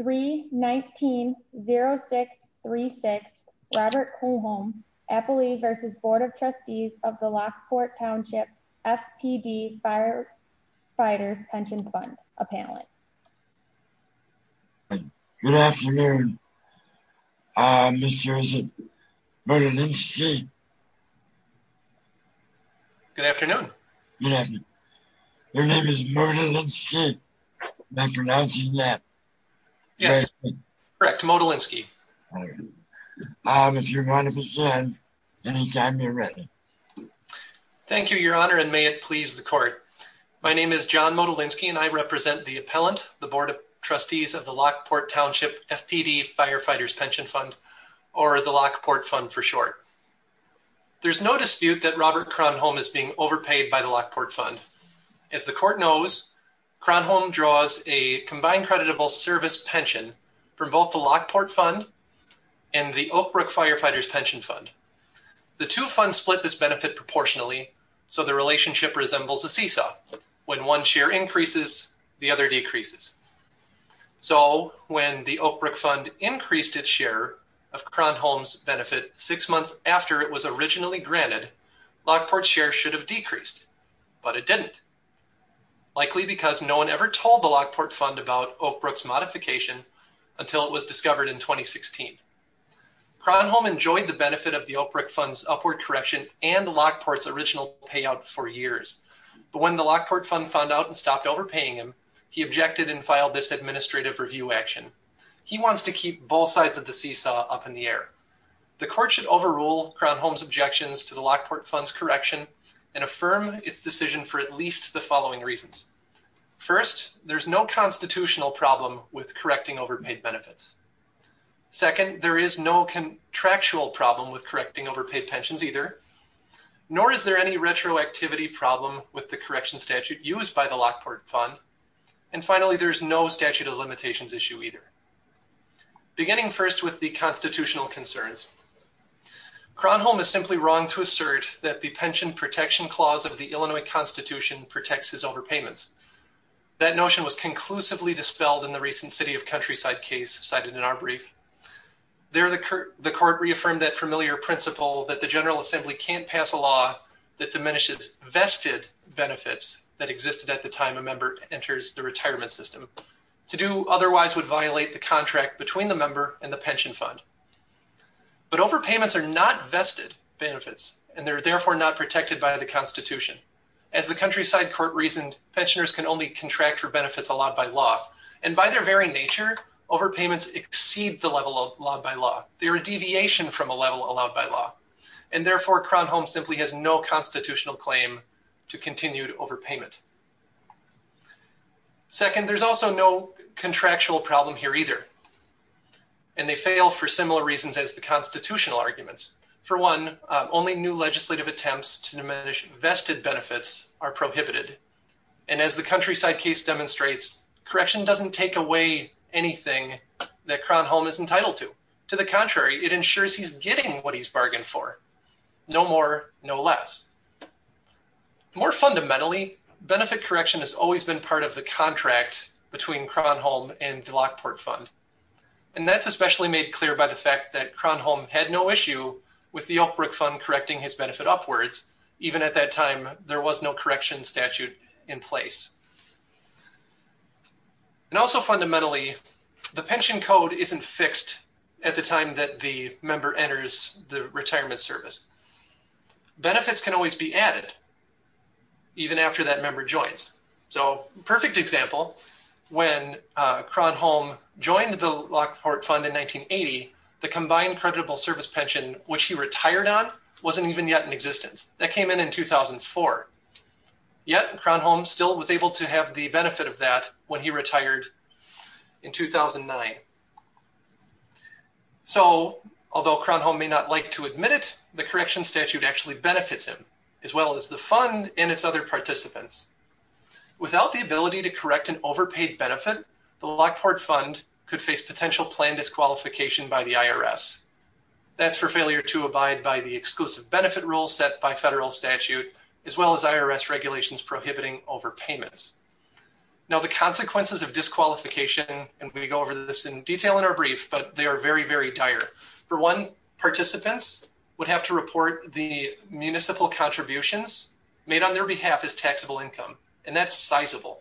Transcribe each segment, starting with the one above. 319-0636 Robert Cronholm, Appalachian v. Board of Trustees of the Lockport Township FPD Firefighters' Pension Fund appellant. Good afternoon, Mr. Murda-Lindsay. Good afternoon. Good afternoon. Your name is Murda-Lindsay? Am I pronouncing that correctly? Yes, correct. Murda-Lindsay. If you want to present, anytime you're ready. Thank you, Your Honor, and may it please the Court. My name is John Murda-Lindsay, and I represent the appellant, the Board of Trustees of the Lockport Township FPD Firefighters' Pension Fund, or the Lockport Fund for short. There's no dispute that Robert Cronholm is being overpaid by the Lockport Fund. As the Court knows, Cronholm draws a combined creditable service pension from both the Lockport Fund and the Oakbrook Firefighters' Pension Fund. The two funds split this benefit proportionally, so the relationship resembles a seesaw. When one share increases, the other decreases. So, when the Oakbrook Fund increased its share of Cronholm's benefit six months after it was originally granted, Lockport's share should have decreased, but it didn't, likely because no one ever told the Lockport Fund about Oakbrook's modification until it was discovered in 2016. Cronholm enjoyed the benefit of the Oakbrook Fund's upward correction and Lockport's original payout for years, but when the Lockport Fund found out and stopped overpaying him, he objected and filed this administrative review action. He wants to keep both sides of the seesaw up in the air. The Court should overrule Cronholm's objections to the Lockport Fund's correction and affirm its decision for at least the following reasons. First, there's no constitutional problem with correcting overpaid benefits. Second, there is no contractual problem with correcting overpaid pensions either, nor is there any retroactivity problem with the correction statute used by the Lockport Fund. And finally, there's no statute of limitations issue either. Beginning first with the constitutional concerns, Cronholm is simply wrong to assert that the Pension Protection Clause of the Illinois Constitution protects his overpayments. That notion was conclusively dispelled in the recent City of Countryside case, cited in our brief. The Court reaffirmed that familiar principle that the General Assembly can't pass a law that diminishes vested benefits that existed at the time a member enters the retirement system. To do otherwise would violate the contract between the member and the pension fund. But overpayments are not vested benefits, and they're therefore not protected by the Constitution. As the Countryside Court reasoned, pensioners can only contract for benefits allowed by law. And by their very nature, overpayments exceed the level of law by law. They're a deviation from a level allowed by law. And therefore, Cronholm simply has no constitutional claim to continued overpayment. Second, there's also no contractual problem here either. And they fail for similar reasons as the constitutional arguments. For one, only new legislative attempts to diminish vested benefits are prohibited. And as the Countryside case demonstrates, correction doesn't take away anything that Cronholm is entitled to. To the contrary, it ensures he's getting what he's bargained for. No more, no less. More fundamentally, benefit correction has always been part of the contract between Cronholm and the Lockport Fund. And that's especially made clear by the fact that Cronholm had no issue with the Oakbrook Fund correcting his benefit upwards. Even at that time, there was no correction statute in place. And also fundamentally, the pension code isn't fixed at the time that the member enters the retirement service. Benefits can always be added, even after that member joins. So, perfect example, when Cronholm joined the Lockport Fund in 1980, the combined creditable service pension, which he retired on, wasn't even yet in existence. That came in in 2004. Yet, Cronholm still was able to have the benefit of that when he retired in 2009. So, although Cronholm may not like to admit it, the correction statute actually benefits him, as well as the fund and its other participants. Without the ability to correct an overpaid benefit, the Lockport Fund could face potential planned disqualification by the IRS. That's for failure to abide by the exclusive benefit rule set by federal statute, as well as IRS regulations prohibiting overpayments. Now, the consequences of disqualification, and we go over this in detail in our brief, but they are very, very dire. For one, participants would have to report the municipal contributions made on their behalf as taxable income, and that's sizable.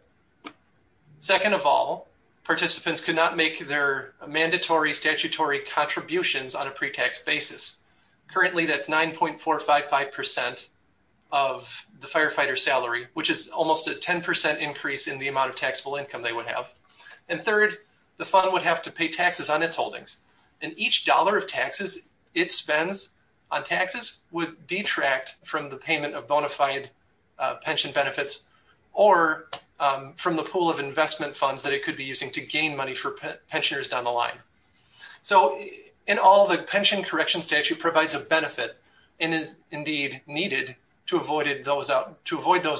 Second of all, participants could not make their mandatory, statutory contributions on a pre-tax basis. Currently, that's 9.455% of the firefighter's salary, which is almost a 10% increase in the amount of taxable income they would have. And third, the fund would have to pay taxes on its holdings, and each dollar of taxes it spends on taxes would detract from the payment of bona fide pension benefits, or from the pool of investment funds that it could be using to gain money for pensioners down the line. So, in all, the pension correction statute provides a benefit, and is indeed needed to avoid those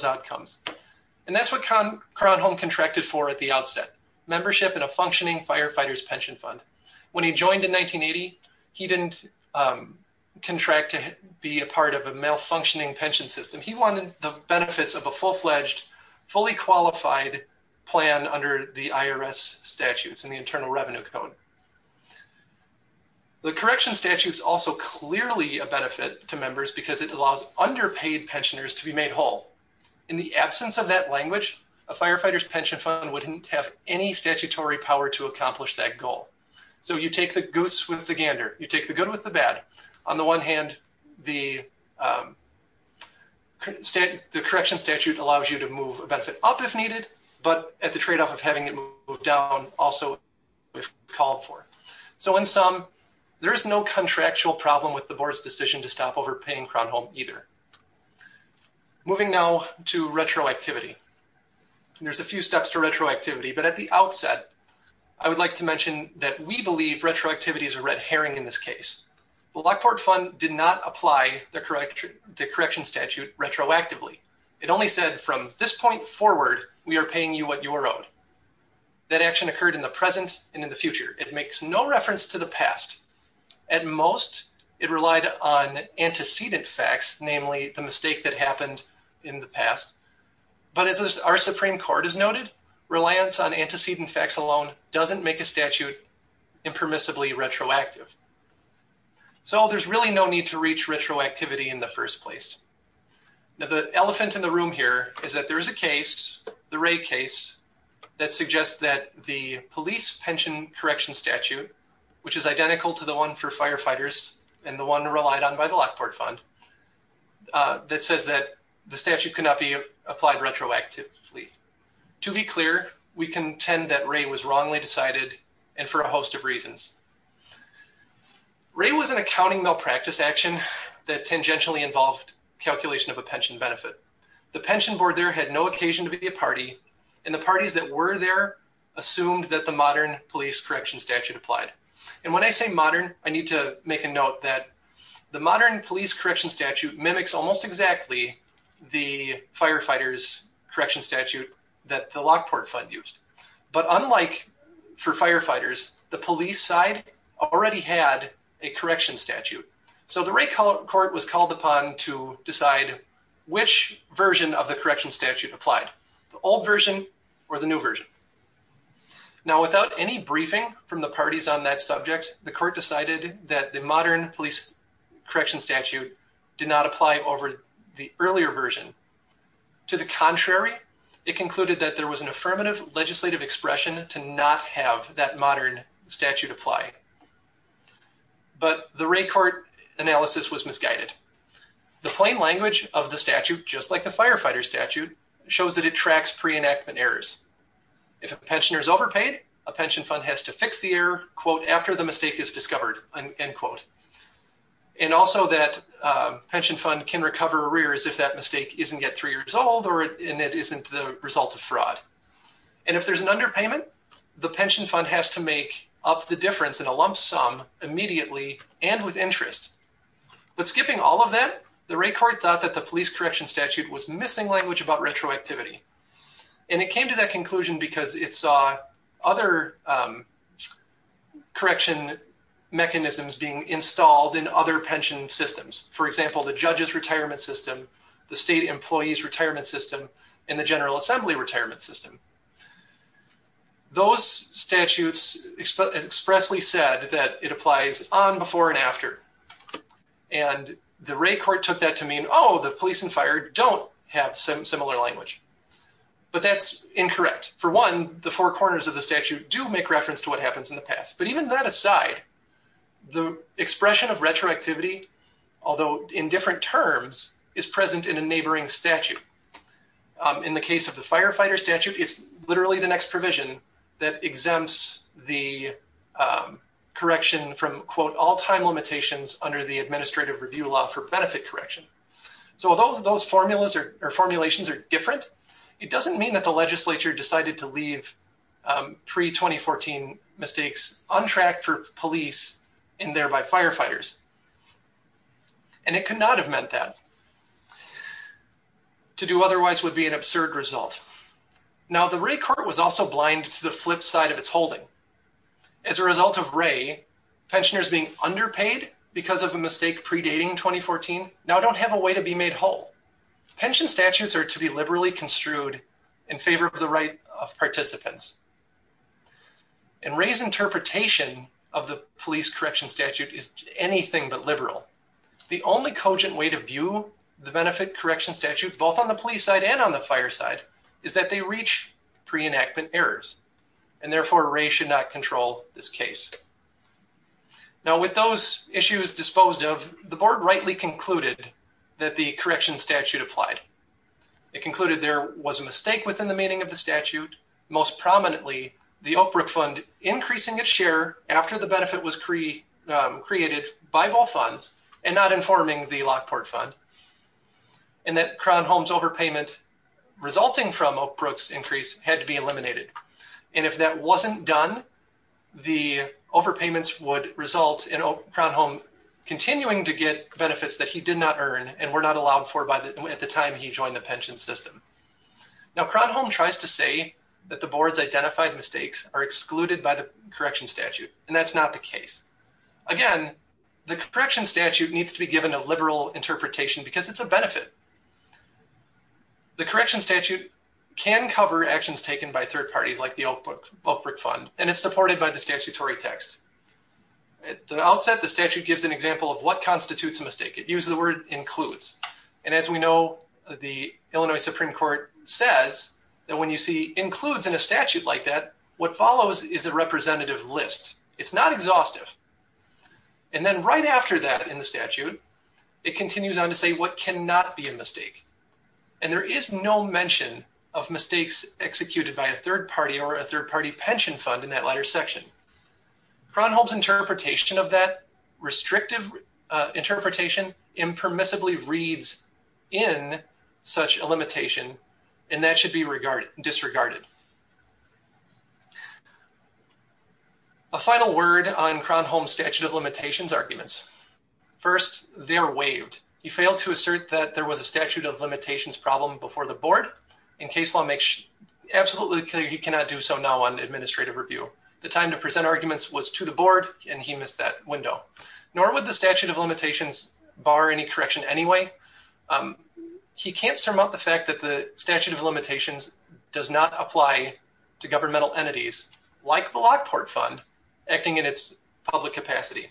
outcomes. And that's what Kronholm contracted for at the outset, membership in a functioning firefighter's pension fund. When he joined in 1980, he didn't contract to be a part of a malfunctioning pension system. He wanted the benefits of a full-fledged, fully qualified plan under the IRS statutes and the Internal Revenue Code. The correction statute is also clearly a benefit to members because it allows underpaid pensioners to be made whole. In the absence of that language, a firefighter's pension fund wouldn't have any statutory power to accomplish that goal. So, you take the goose with the gander. You take the good with the bad. On the one hand, the correction statute allows you to move a benefit up if needed, but at the trade-off of having it moved down also if called for. So, in sum, there is no contractual problem with the board's decision to stop overpaying Kronholm either. Moving now to retroactivity. There's a few steps to retroactivity, but at the outset, I would like to mention that we believe retroactivity is a red herring in this case. The Lockport Fund did not apply the correction statute retroactively. It only said, from this point forward, we are paying you what you are owed. That action occurred in the present and in the future. It makes no reference to the past. At most, it relied on antecedent facts, namely the mistake that happened in the past. But as our Supreme Court has noted, reliance on antecedent facts alone doesn't make a statute impermissibly retroactive. So, there's really no need to reach retroactivity in the first place. Now, the elephant in the room here is that there is a case, the Wray case, that suggests that the police pension correction statute, which is identical to the one for firefighters and the one relied on by the Lockport Fund, that says that the statute cannot be applied retroactively. To be clear, we contend that Wray was wrongly decided and for a host of reasons. Wray was an accounting malpractice action that tangentially involved calculation of a pension benefit. The pension board there had no occasion to be a party and the parties that were there assumed that the modern police correction statute applied. And when I say modern, I need to make a note that the modern police correction statute mimics almost exactly the firefighters correction statute that the Lockport Fund used. But unlike for firefighters, the police side already had a correction statute. So the Wray court was called upon to decide which version of the correction statute applied, the old version or the new version. Now, without any briefing from the parties on that subject, the court decided that the modern police correction statute did not apply over the earlier version. To the contrary, it concluded that there was an affirmative legislative expression to not have that modern statute apply. But the Wray court analysis was misguided. The plain language of the statute, just like the firefighter statute, shows that it tracks pre-enactment errors. If a pensioner is overpaid, a pension fund has to fix the error, quote, after the mistake is discovered, end quote. And also that pension fund can recover arrears if that mistake isn't yet three years old or it isn't the result of fraud. And if there's an underpayment, the pension fund has to make up the difference in a lump sum immediately and with interest. But skipping all of that, the Wray court thought that the police correction statute was missing language about retroactivity. And it came to that conclusion because it saw other correction mechanisms being installed in other pension systems. For example, the judge's retirement system, the state employee's retirement system, and the general assembly retirement system. Those statutes expressly said that it applies on, before, and after. And the Wray court took that to mean, oh, the police and fire don't have some similar language. But that's incorrect. For one, the four corners of the statute do make reference to what happens in the past. But even that aside, the expression of retroactivity, although in different terms, is present in a neighboring statute. In the case of the firefighter statute, it's literally the next provision that exempts the correction from, quote, all time limitations under the administrative review law for benefit correction. So although those formulas or formulations are different, it doesn't mean that the legislature decided to leave pre-2014 mistakes on track for police and thereby firefighters. And it could not have meant that. To do otherwise would be an absurd result. Now, the Wray court was also blind to the flip side of its holding. As a result of Wray, pensioners being underpaid because of a mistake predating 2014 now don't have a way to be made whole. Pension statutes are to be liberally construed in favor of the right of participants. And Wray's interpretation of the police correction statute is anything but liberal. The only cogent way to view the benefit correction statute, both on the police side and on the fire side, is that they reach pre-enactment errors. And therefore, Wray should not control this case. Now, with those issues disposed of, the board rightly concluded that the correction statute applied. It concluded there was a mistake within the meaning of the statute. Most prominently, the Oak Brook Fund increasing its share after the benefit was created by both funds and not informing the Lockport Fund. And that Crown Homes overpayment resulting from Oak Brook's increase had to be eliminated. And if that wasn't done, the overpayments would result in Crown Home continuing to get benefits that he did not earn and were not allowed for at the time he joined the pension system. Now, Crown Home tries to say that the board's identified mistakes are excluded by the correction statute. And that's not the case. Again, the correction statute needs to be given a liberal interpretation because it's a benefit. The correction statute can cover actions taken by third parties like the Oak Brook Fund. And it's supported by the statutory text. At the outset, the statute gives an example of what constitutes a mistake. It uses the word includes. And as we know, the Illinois Supreme Court says that when you see includes in a statute like that, what follows is a representative list. And then right after that in the statute, it continues on to say what cannot be a mistake. And there is no mention of mistakes executed by a third party or a third party pension fund in that latter section. Crown Home's interpretation of that restrictive interpretation impermissibly reads in such a limitation. And that should be disregarded. A final word on Crown Home statute of limitations arguments. First, they're waived. He failed to assert that there was a statute of limitations problem before the board. And case law makes absolutely clear he cannot do so now on administrative review. The time to present arguments was to the board, and he missed that window. Nor would the statute of limitations bar any correction anyway. He can't surmount the fact that the statute of limitations does not apply to governmental entities like the Lockport Fund acting in its public capacity.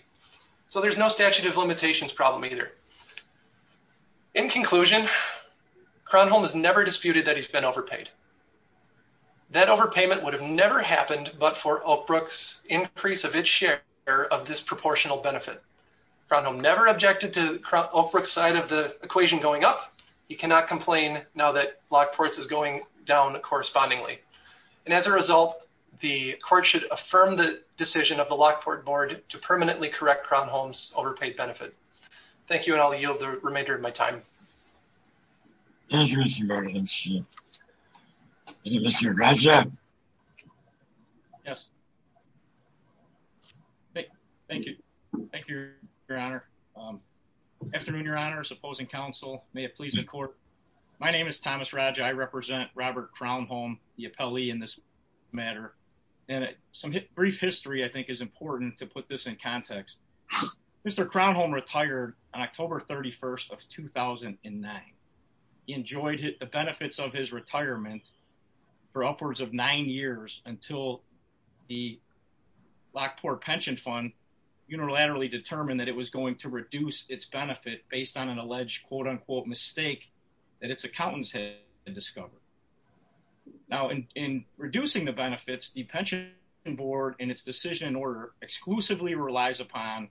So there's no statute of limitations problem either. In conclusion, Crown Home has never disputed that he's been overpaid. That overpayment would have never happened, but for Oakbrook's increase of its share of this proportional benefit. Crown Home never objected to Oakbrook's side of the equation going up. He cannot complain now that Lockport's is going down correspondingly. And as a result, the court should affirm the decision of the Lockport board to permanently correct Crown Home's overpaid benefit. Thank you and I'll yield the remainder of my time. Thank you, Mr. Martins. Thank you, Mr. Raja. Yes. Thank you. Thank you, your honor. Afternoon, your honors, opposing counsel. May it please the court. My name is Thomas Raja. I represent Robert Crown Home, the appellee in this matter. And some brief history, I think is important to put this in context. Mr. Crown Home retired on October 31st of 2009. He enjoyed the benefits of his retirement for upwards of nine years until the Lockport pension fund unilaterally determined that it was going to reduce its benefit based on an alleged, quote unquote, mistake that its accountants had discovered. Now, in reducing the benefits, the pension board and its decision in order exclusively relies upon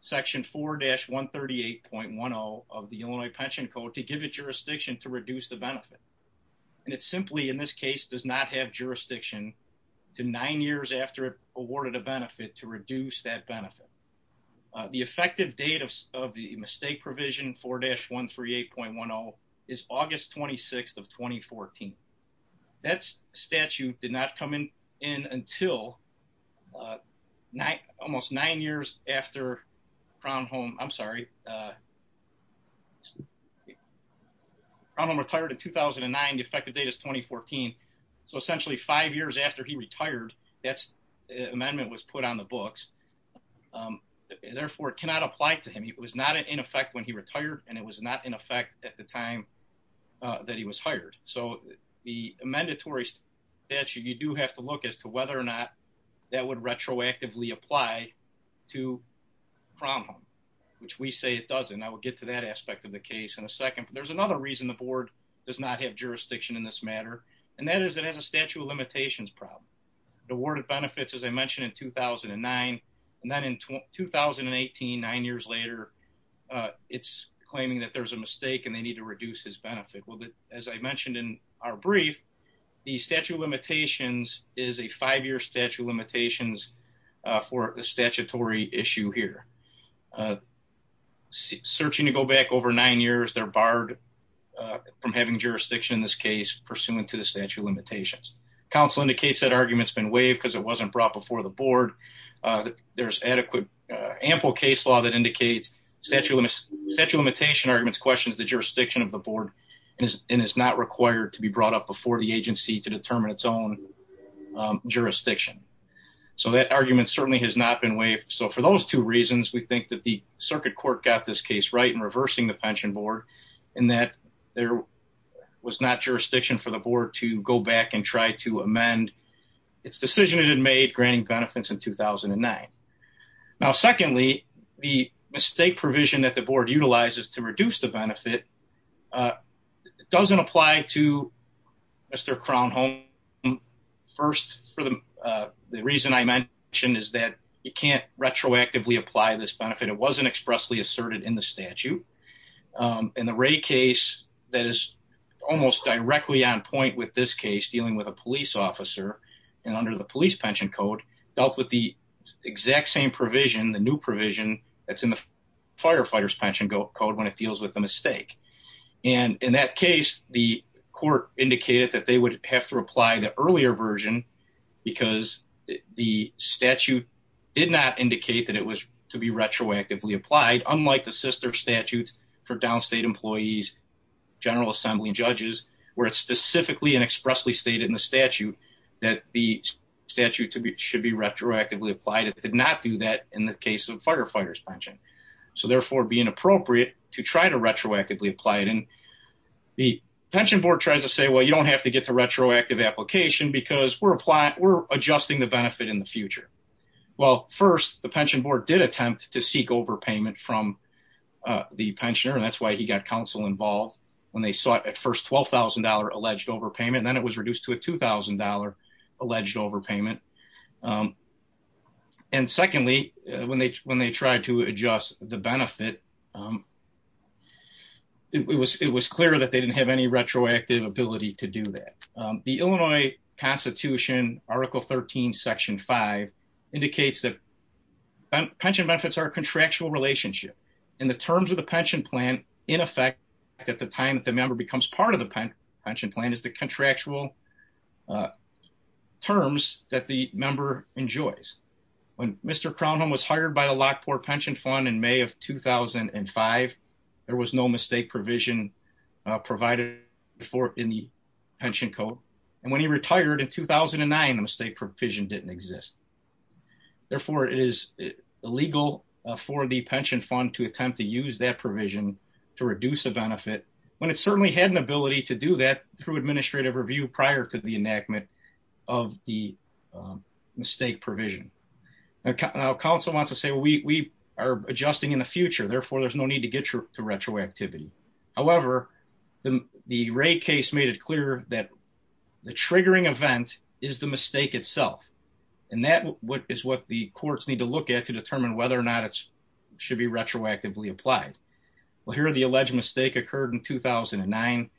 section 4-138.10 of the Illinois pension code to give it jurisdiction to reduce the benefit. And it simply, in this case, does not have jurisdiction to nine years after awarded a benefit to reduce that benefit. The effective date of the mistake provision 4-138.10 is August 26th of 2014. That statute did not come in until almost nine years after Crown Home, I'm sorry, Crown Home retired in 2009. The effective date is 2014. So essentially five years after he retired, that amendment was put on the books. Therefore, it cannot apply to him. It was not in effect when he retired, and it was not in effect at the time that he was hired. So the mandatory statute, you do have to look as to whether or not that would retroactively apply to Crown Home, which we say it doesn't. I will get to that aspect of the case in a second. But there's another reason the board does not have jurisdiction in this matter. And that is, it has a statute of limitations problem. The word of benefits, as I mentioned in 2009, and then in 2018, nine years later, it's claiming that there's a mistake and they need to reduce his benefit. Well, as I mentioned in our brief, the statute of limitations is a five-year statute of limitations for the statutory issue here. Searching to go back over nine years, they're barred from having jurisdiction in this case, pursuant to the statute of limitations. Counsel indicates that argument's been waived because it wasn't brought before the board. There's adequate, ample case law that indicates statute of limitation arguments questions the jurisdiction of the board and is not required to be brought up before the agency to determine its own jurisdiction. So that argument certainly has not been waived. So for those two reasons, we think that the circuit court got this case right in reversing the pension board and that there was not jurisdiction for the board to go back and try to amend its decision it had made granting benefits in 2009. Now, secondly, the mistake provision that the board utilizes to reduce the benefit doesn't apply to Mr. Crownholm First, the reason I mentioned is that you can't retroactively apply this benefit. It wasn't expressly asserted in the statute. In the Ray case, that is almost directly on point with this case dealing with a police officer and under the police pension code dealt with the exact same provision, the new provision that's in the firefighters pension code when it deals with the mistake. And in that case, the court indicated that they would have to apply the earlier version because the statute did not indicate that it was to be retroactively applied, unlike the sister statutes for downstate employees, General Assembly judges, where it's specifically and expressly stated in the statute that the statute should be retroactively applied. It did not do that in the case of firefighters pension, so therefore being appropriate to try to retroactively apply it. And the pension board tries to say, well, you don't have to get to retroactive application because we're applying, we're adjusting the benefit in the future. Well, first, the pension board did attempt to seek overpayment from the pensioner, and that's why he got counsel involved when they saw it at first $12,000 alleged overpayment, and then it was reduced to a $2,000 alleged overpayment. And secondly, when they when they tried to adjust the benefit. It was it was clear that they didn't have any retroactive ability to do that. The Illinois Constitution, Article 13, Section 5, indicates that pension benefits are contractual relationship in the terms of the pension plan. In effect, at the time that the member becomes part of the pension plan is the contractual terms that the member enjoys. When Mr. Crownholm was hired by the Lockport Pension Fund in May of 2005, there was no mistake provision provided for in the pension code. And when he retired in 2009, the mistake provision didn't exist. Therefore, it is illegal for the pension fund to attempt to use that provision to reduce a benefit when it certainly had an ability to do that through administrative review prior to the enactment of the mistake provision. Now, counsel wants to say we are adjusting in the future. Therefore, there's no need to get to retroactivity. However, the Wray case made it clear that the triggering event is the mistake itself. And that is what the courts need to look at to determine whether or not it should be retroactively applied. Well, here are the alleged mistake occurred in 2009,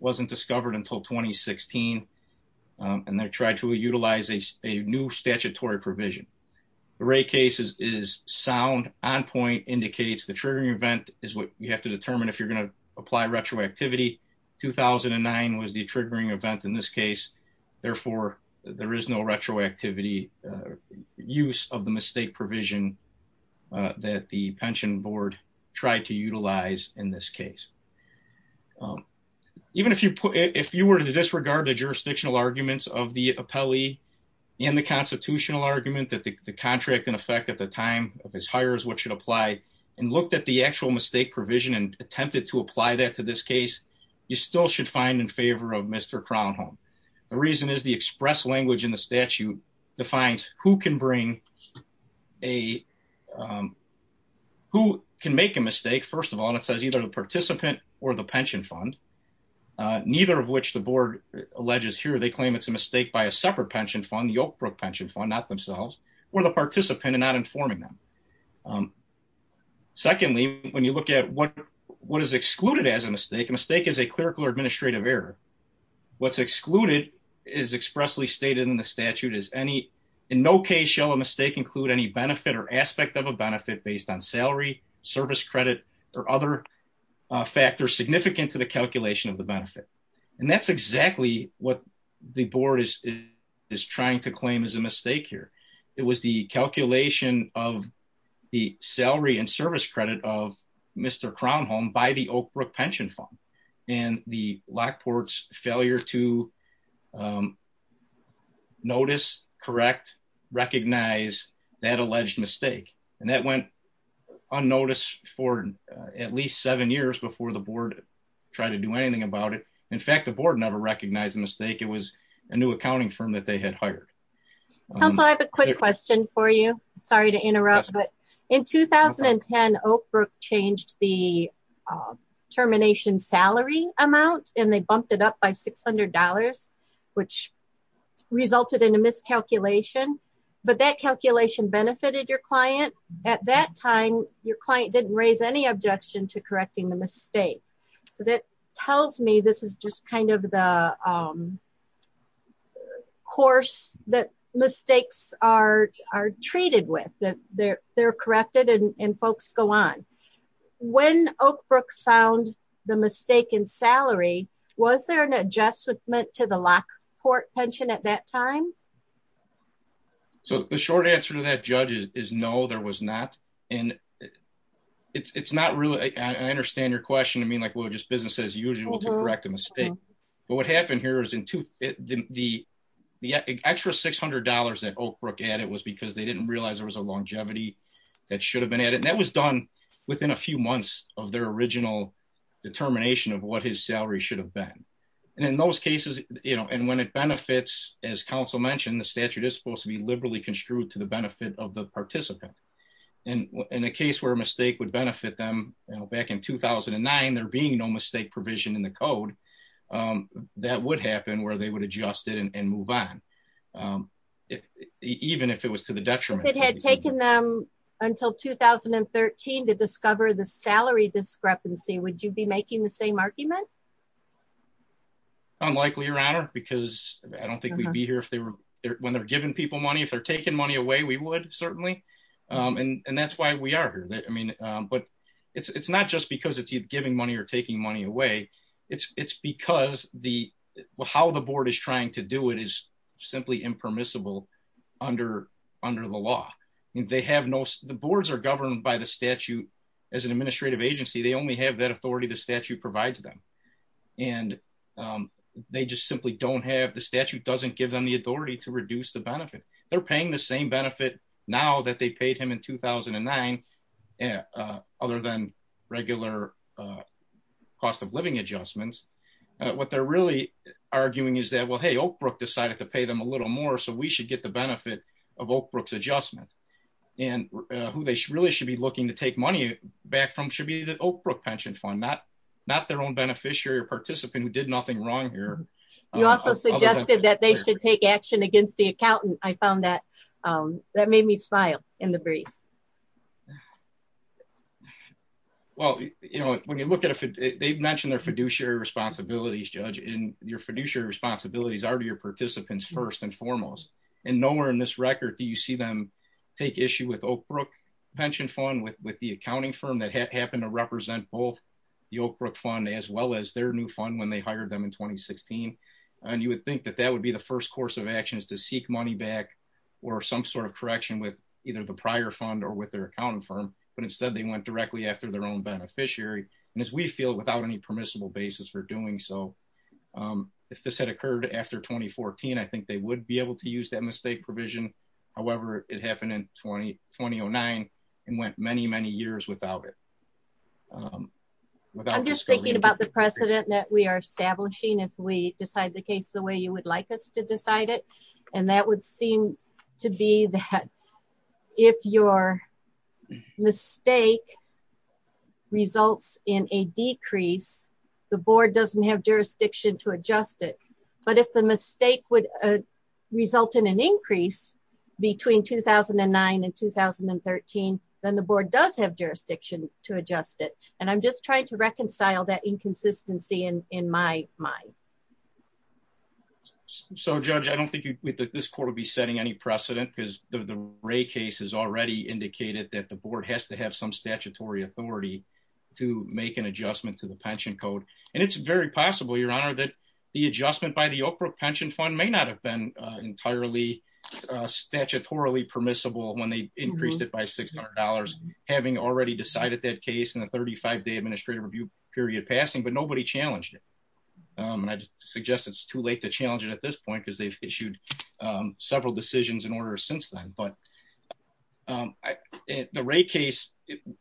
wasn't discovered until 2016. And they tried to utilize a new statutory provision. The Wray case is sound, on point indicates the triggering event is what you have to determine if you're going to apply retroactivity. 2009 was the triggering event in this case. Therefore, there is no retroactivity use of the mistake provision that the pension board tried to utilize in this case. Even if you were to disregard the jurisdictional arguments of the appellee and the constitutional argument that the contract in effect at the time of his hire is what should apply and looked at the actual mistake provision and attempted to apply that to this case, you still should find in favor of Mr. Crownholm. The reason is the express language in the statute defines who can bring a, who can make a mistake. First of all, and it says either the participant or the pension fund, neither of which the board alleges here, they claim it's a mistake by a separate pension fund, the Oak Brook pension fund, not themselves or the participant and not informing them. Secondly, when you look at what is excluded as a mistake, a mistake is a clerical or administrative error. What's excluded is expressly stated in the statute as any in no case shall a mistake include any benefit or aspect of a benefit based on salary, service credit, or other factors significant to the calculation And that's exactly what the board is trying to claim as a mistake here. It was the calculation of the salary and service credit of Mr. Crownholm by the Oak Brook pension fund and the Lockport's failure to notice, correct, recognize that alleged mistake. And that went unnoticed for at least seven years before the board tried to do anything about it. In fact, the board never recognized the mistake. It was a new accounting firm that they had hired. Council, I have a quick question for you. Sorry to interrupt, but in 2010, Oak Brook changed the termination salary amount and they bumped it up by $600, which resulted in a miscalculation. But that calculation benefited your client. At that time, your client didn't raise any objection to correcting the mistake. So that tells me this is just kind of the course that mistakes are treated with, they're corrected and folks go on. When Oak Brook found the mistake in salary, was there an adjustment to the Lockport pension at that time? So the short answer to that, Judge, is no, there was not. And it's not really, I understand your question. I mean, like, well, just business as usual to correct a mistake. But what happened here is the extra $600 that Oak Brook added was because they didn't realize there was a longevity that should have been added. And that was done within a few months of their original determination of what his salary should have been. And in those cases, and when it benefits, as counsel mentioned, the statute is supposed to be liberally construed to the benefit of the participant. And in a case where a mistake would benefit them back in 2009, there being no mistake provision in the code, that would happen where they would adjust it and move on. Even if it was to the detriment. It had taken them until 2013 to discover the salary discrepancy. Would you be making the same argument? Unlikely, your honor, because I don't think we'd be here when they're giving people money. If they're taking money away, we would certainly. And that's why we are here. I mean, but it's not just because it's giving money or taking money away. It's because the, how the board is trying to do it is simply impermissible under the law. And they have no, the boards are governed by the statute. As an administrative agency, they only have that authority. The statute provides them. And they just simply don't have, the statute doesn't give them the authority to reduce the benefit. They're paying the same benefit. Now that they paid him in 2009. Other than regular cost of living adjustments. What they're really arguing is that, well, hey, Oak Brook decided to pay them a little more. So we should get the benefit of Oak Brook's adjustment and who they really should be looking to take money back from should be the Oak Brook pension fund. Not, not their own beneficiary or participant who did nothing wrong here. You also suggested that they should take action against the accountant. I found that, that made me smile in the brief. Well, you know, when you look at it, they've mentioned their fiduciary responsibilities, judge in your fiduciary responsibilities are to your participants first and foremost. And nowhere in this record do you see them take issue with Oak Brook pension fund with the accounting firm that had happened to represent both the Oak Brook fund as well as their new fund when they hired them in 2016. And you would think that that would be the first course of action is to seek money back or some sort of correction with either the prior fund or with their accounting firm. But instead they went directly after their own beneficiary. And as we feel without any permissible basis for doing so, if this had occurred after 2014, I think they would be able to use that mistake provision. However, it happened in 2009 and went many, many years without it. I'm just thinking about the precedent that we are establishing. If we decide the case the way you would like us to decide it. And that would seem to be that if your mistake results in a decrease, the board doesn't have jurisdiction to adjust it. But if the mistake would result in an increase between 2009 and 2013, then the board does have jurisdiction to adjust it. And I'm just trying to reconcile that inconsistency in my mind. So Judge, I don't think this court will be setting any precedent because the Ray case has already indicated some statutory authority to make an adjustment to the pension code. And it's very possible, Your Honor, the adjustment by the Oak Brook Pension Fund may not have been entirely statutorily permissible when they increased it by $600, having already decided that case in the 35-day administrative review period passing, but nobody challenged it. And I suggest it's too late to challenge it at this point because they've issued several decisions in order since then. But the Ray case,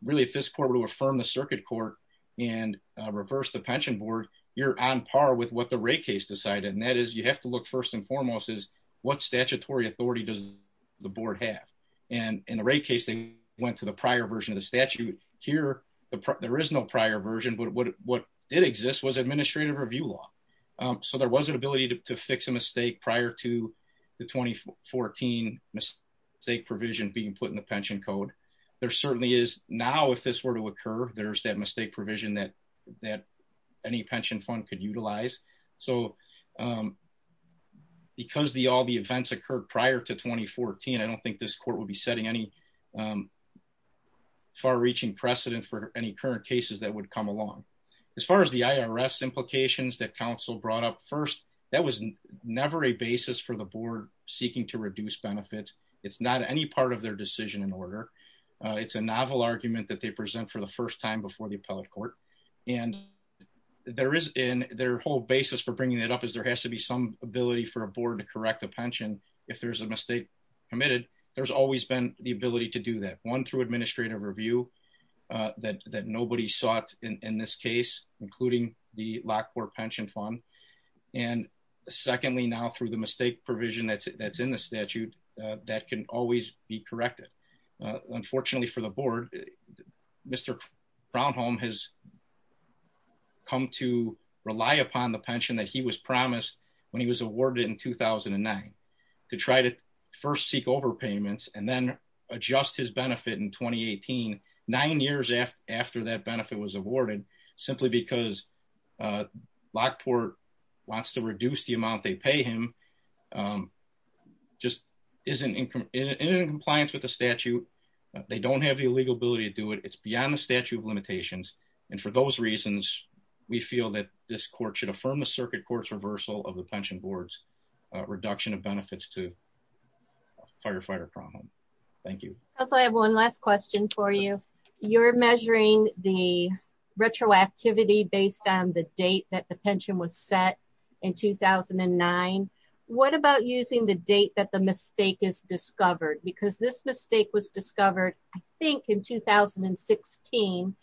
really, if this court were to affirm the circuit court and reverse the pension board, you're on par with what the Ray case decided. And that is you have to look first and foremost is what statutory authority does the board have? And in the Ray case, they went to the prior version of the statute. Here, there is no prior version, but what did exist was administrative review law. So there was an ability to fix a mistake prior to the 2014 mistake provision being put in the pension code. There certainly is. Now, if this were to occur, there's that mistake provision that any pension fund could utilize. So because all the events occurred prior to 2014, I don't think this court would be setting any far-reaching precedent for any current cases that would come along. As far as the IRS implications that council brought up first, that was never a basis for the board seeking to reduce benefits. It's not any part of their decision in order. It's a novel argument that they present for the first time before the appellate court. And their whole basis for bringing it up is there has to be some ability for a board to correct a pension if there's a mistake committed. There's always been the ability to do that. One, through administrative review that nobody sought in this case, including the Lockport Pension Fund. And secondly, now through the mistake provision that's in the statute, that can always be corrected. Unfortunately for the board, Mr. Crownholm has come to rely upon the pension that he was promised when he was awarded in 2009 to try to first seek overpayments and then adjust his benefit in 2018, nine years after that benefit was awarded, simply because Lockport wants to reduce the amount they pay him, just isn't in compliance with the statute. They don't have the legal ability to do it. It's beyond the statute of limitations. And for those reasons, we feel that this court should affirm the circuit court's reversal of the pension board's reduction of benefits to Firefighter Crownholm. Thank you. Also, I have one last question for you. You're measuring the retroactivity based on the date that the pension was set in 2009. What about using the date that the mistake is discovered? Because this mistake was discovered, I think in 2016,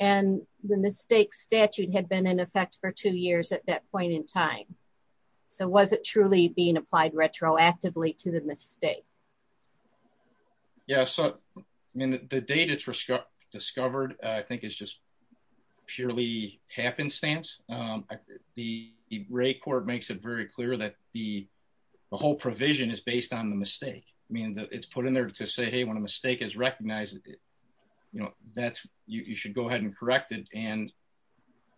and the mistake statute had been in effect for two years at that point in time. So was it truly being applied retroactively to the mistake? Yeah, so I mean, the date it's discovered, I think it's just purely happenstance. The rate court makes it very clear that the whole provision is based on the mistake. I mean, it's put in there to say, hey, when a mistake is recognized, you know, that's, you should go ahead and correct it. And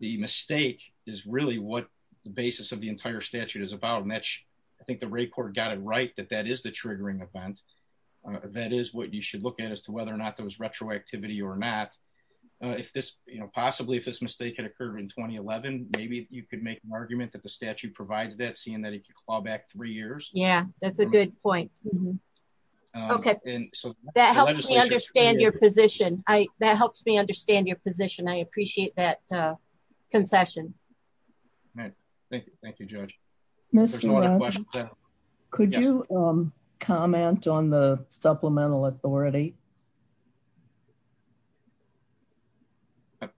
the mistake is really what the basis of the entire statute is about, and that's, I think the rate court got it right, that that is the triggering event. That is what you should look at as to whether or not there was retroactivity or not. If this, you know, possibly if this mistake had occurred in 2011, maybe you could make an argument that the statute provides that seeing that if you claw back three years. Yeah, that's a good point. Okay, that helps me understand your position. I, that helps me understand your position. I appreciate that concession. All right, thank you. Thank you, Judge. Could you comment on the supplemental authority?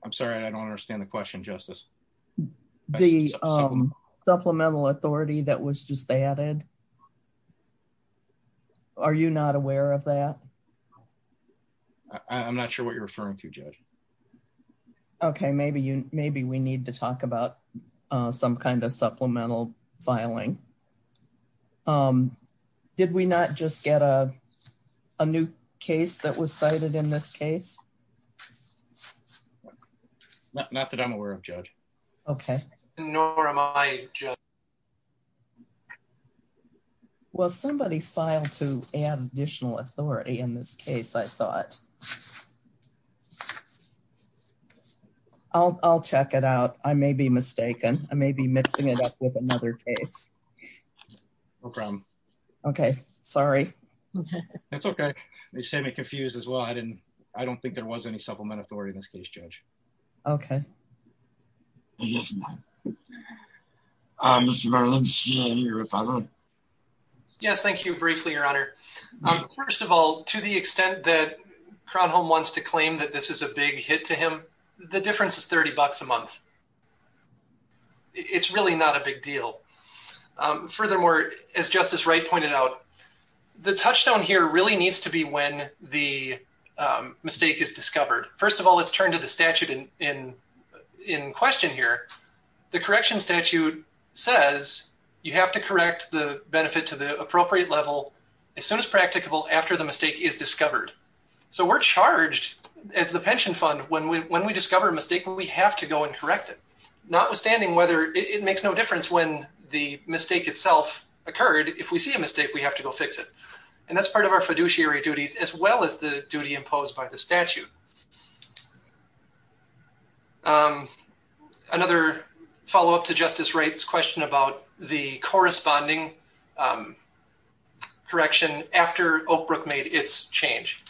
I'm sorry, I don't understand the question, Justice. The supplemental authority that was just added. Are you not aware of that? I'm not sure what you're referring to, Judge. Okay, maybe you, maybe we need to talk about some kind of supplemental filing. Did we not just get a new case that was cited in this case? Not that I'm aware of, Judge. Okay. Nor am I, Judge. Well, somebody filed to add additional authority in this case, I thought. I'll check it out. I may be mistaken. I may be mixing it up with another case. No problem. Okay, sorry. That's okay. You just had me confused as well. I didn't, I don't think there was any supplemental authority in this case, Judge. Okay. Yes, ma'am. Okay. Mr. Marlins, do you have any rebuttal? Yes, thank you. Briefly, Your Honor. First of all, to the extent that Kronholm wants to claim that this is a big hit to him, the difference is 30 bucks a month. It's really not a big deal. Furthermore, as Justice Wright pointed out, the touchdown here really needs to be when the mistake is discovered. First of all, let's turn to the statute in question here. The correction statute says you have to correct the benefit to the appropriate level as soon as practicable after the mistake is discovered. So we're charged as the pension fund when we discover a mistake, we have to go and correct it. Notwithstanding whether it makes no difference when the mistake itself occurred. If we see a mistake, we have to go fix it. And that's part of our fiduciary duties as well as the duty imposed by the statute. Another follow up to Justice Wright's question about the corresponding correction after Oakbrook made its change.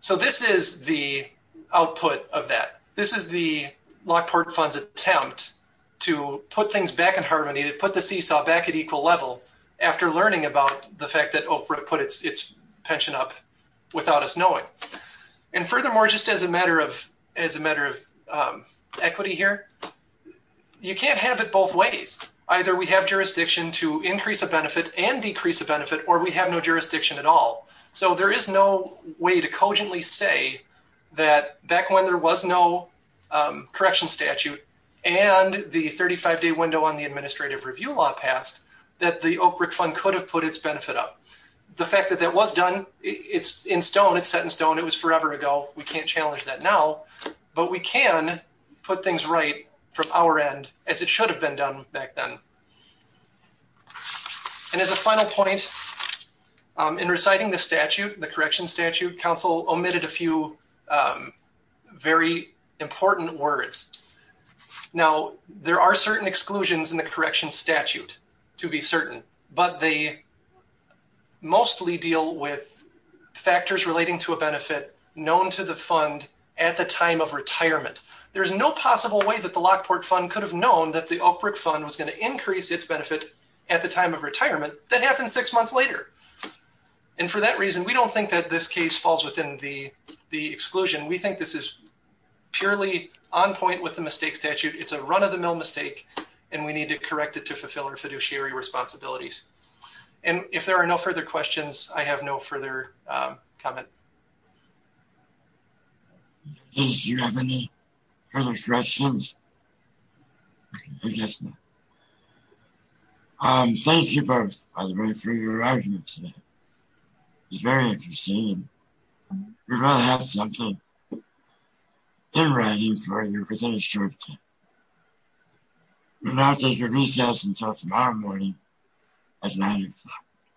So this is the output of that. This is the Lockport Fund's attempt to put things back in harmony, to put the seesaw back at equal level after learning about the fact without us knowing. And furthermore, Justice Wright's question just as a matter of equity here, you can't have it both ways. Either we have jurisdiction to increase a benefit and decrease a benefit, or we have no jurisdiction at all. So there is no way to cogently say that back when there was no correction statute and the 35-day window on the administrative review law passed, that the Oakbrook Fund could have put its benefit up. The fact that that was done, it's in stone. It's set in stone. It was forever ago. We can't challenge that now, but we can put things right from our end as it should have been done back then. And as a final point, in reciting the statute, the correction statute, counsel omitted a few very important words. Now, there are certain exclusions in the correction statute to be certain, but they mostly deal with factors relating to a benefit known to the fund at the time of retirement. There's no possible way that the Lockport Fund could have known that the Oakbrook Fund was going to increase its benefit at the time of retirement. That happened six months later. And for that reason, we don't think that this case falls within the exclusion. We think this is purely on point with the mistake statute. It's a run-of-the-mill mistake, and we need to correct it to fulfill our fiduciary responsibilities. And if there are no further questions, I have no further comment. In case you have any further questions, I guess not. Thank you both, by the way, for your arguments today. It was very interesting, and we'd rather have something in writing for you within a short time. We'll now take a recess until tomorrow morning at 9 o'clock.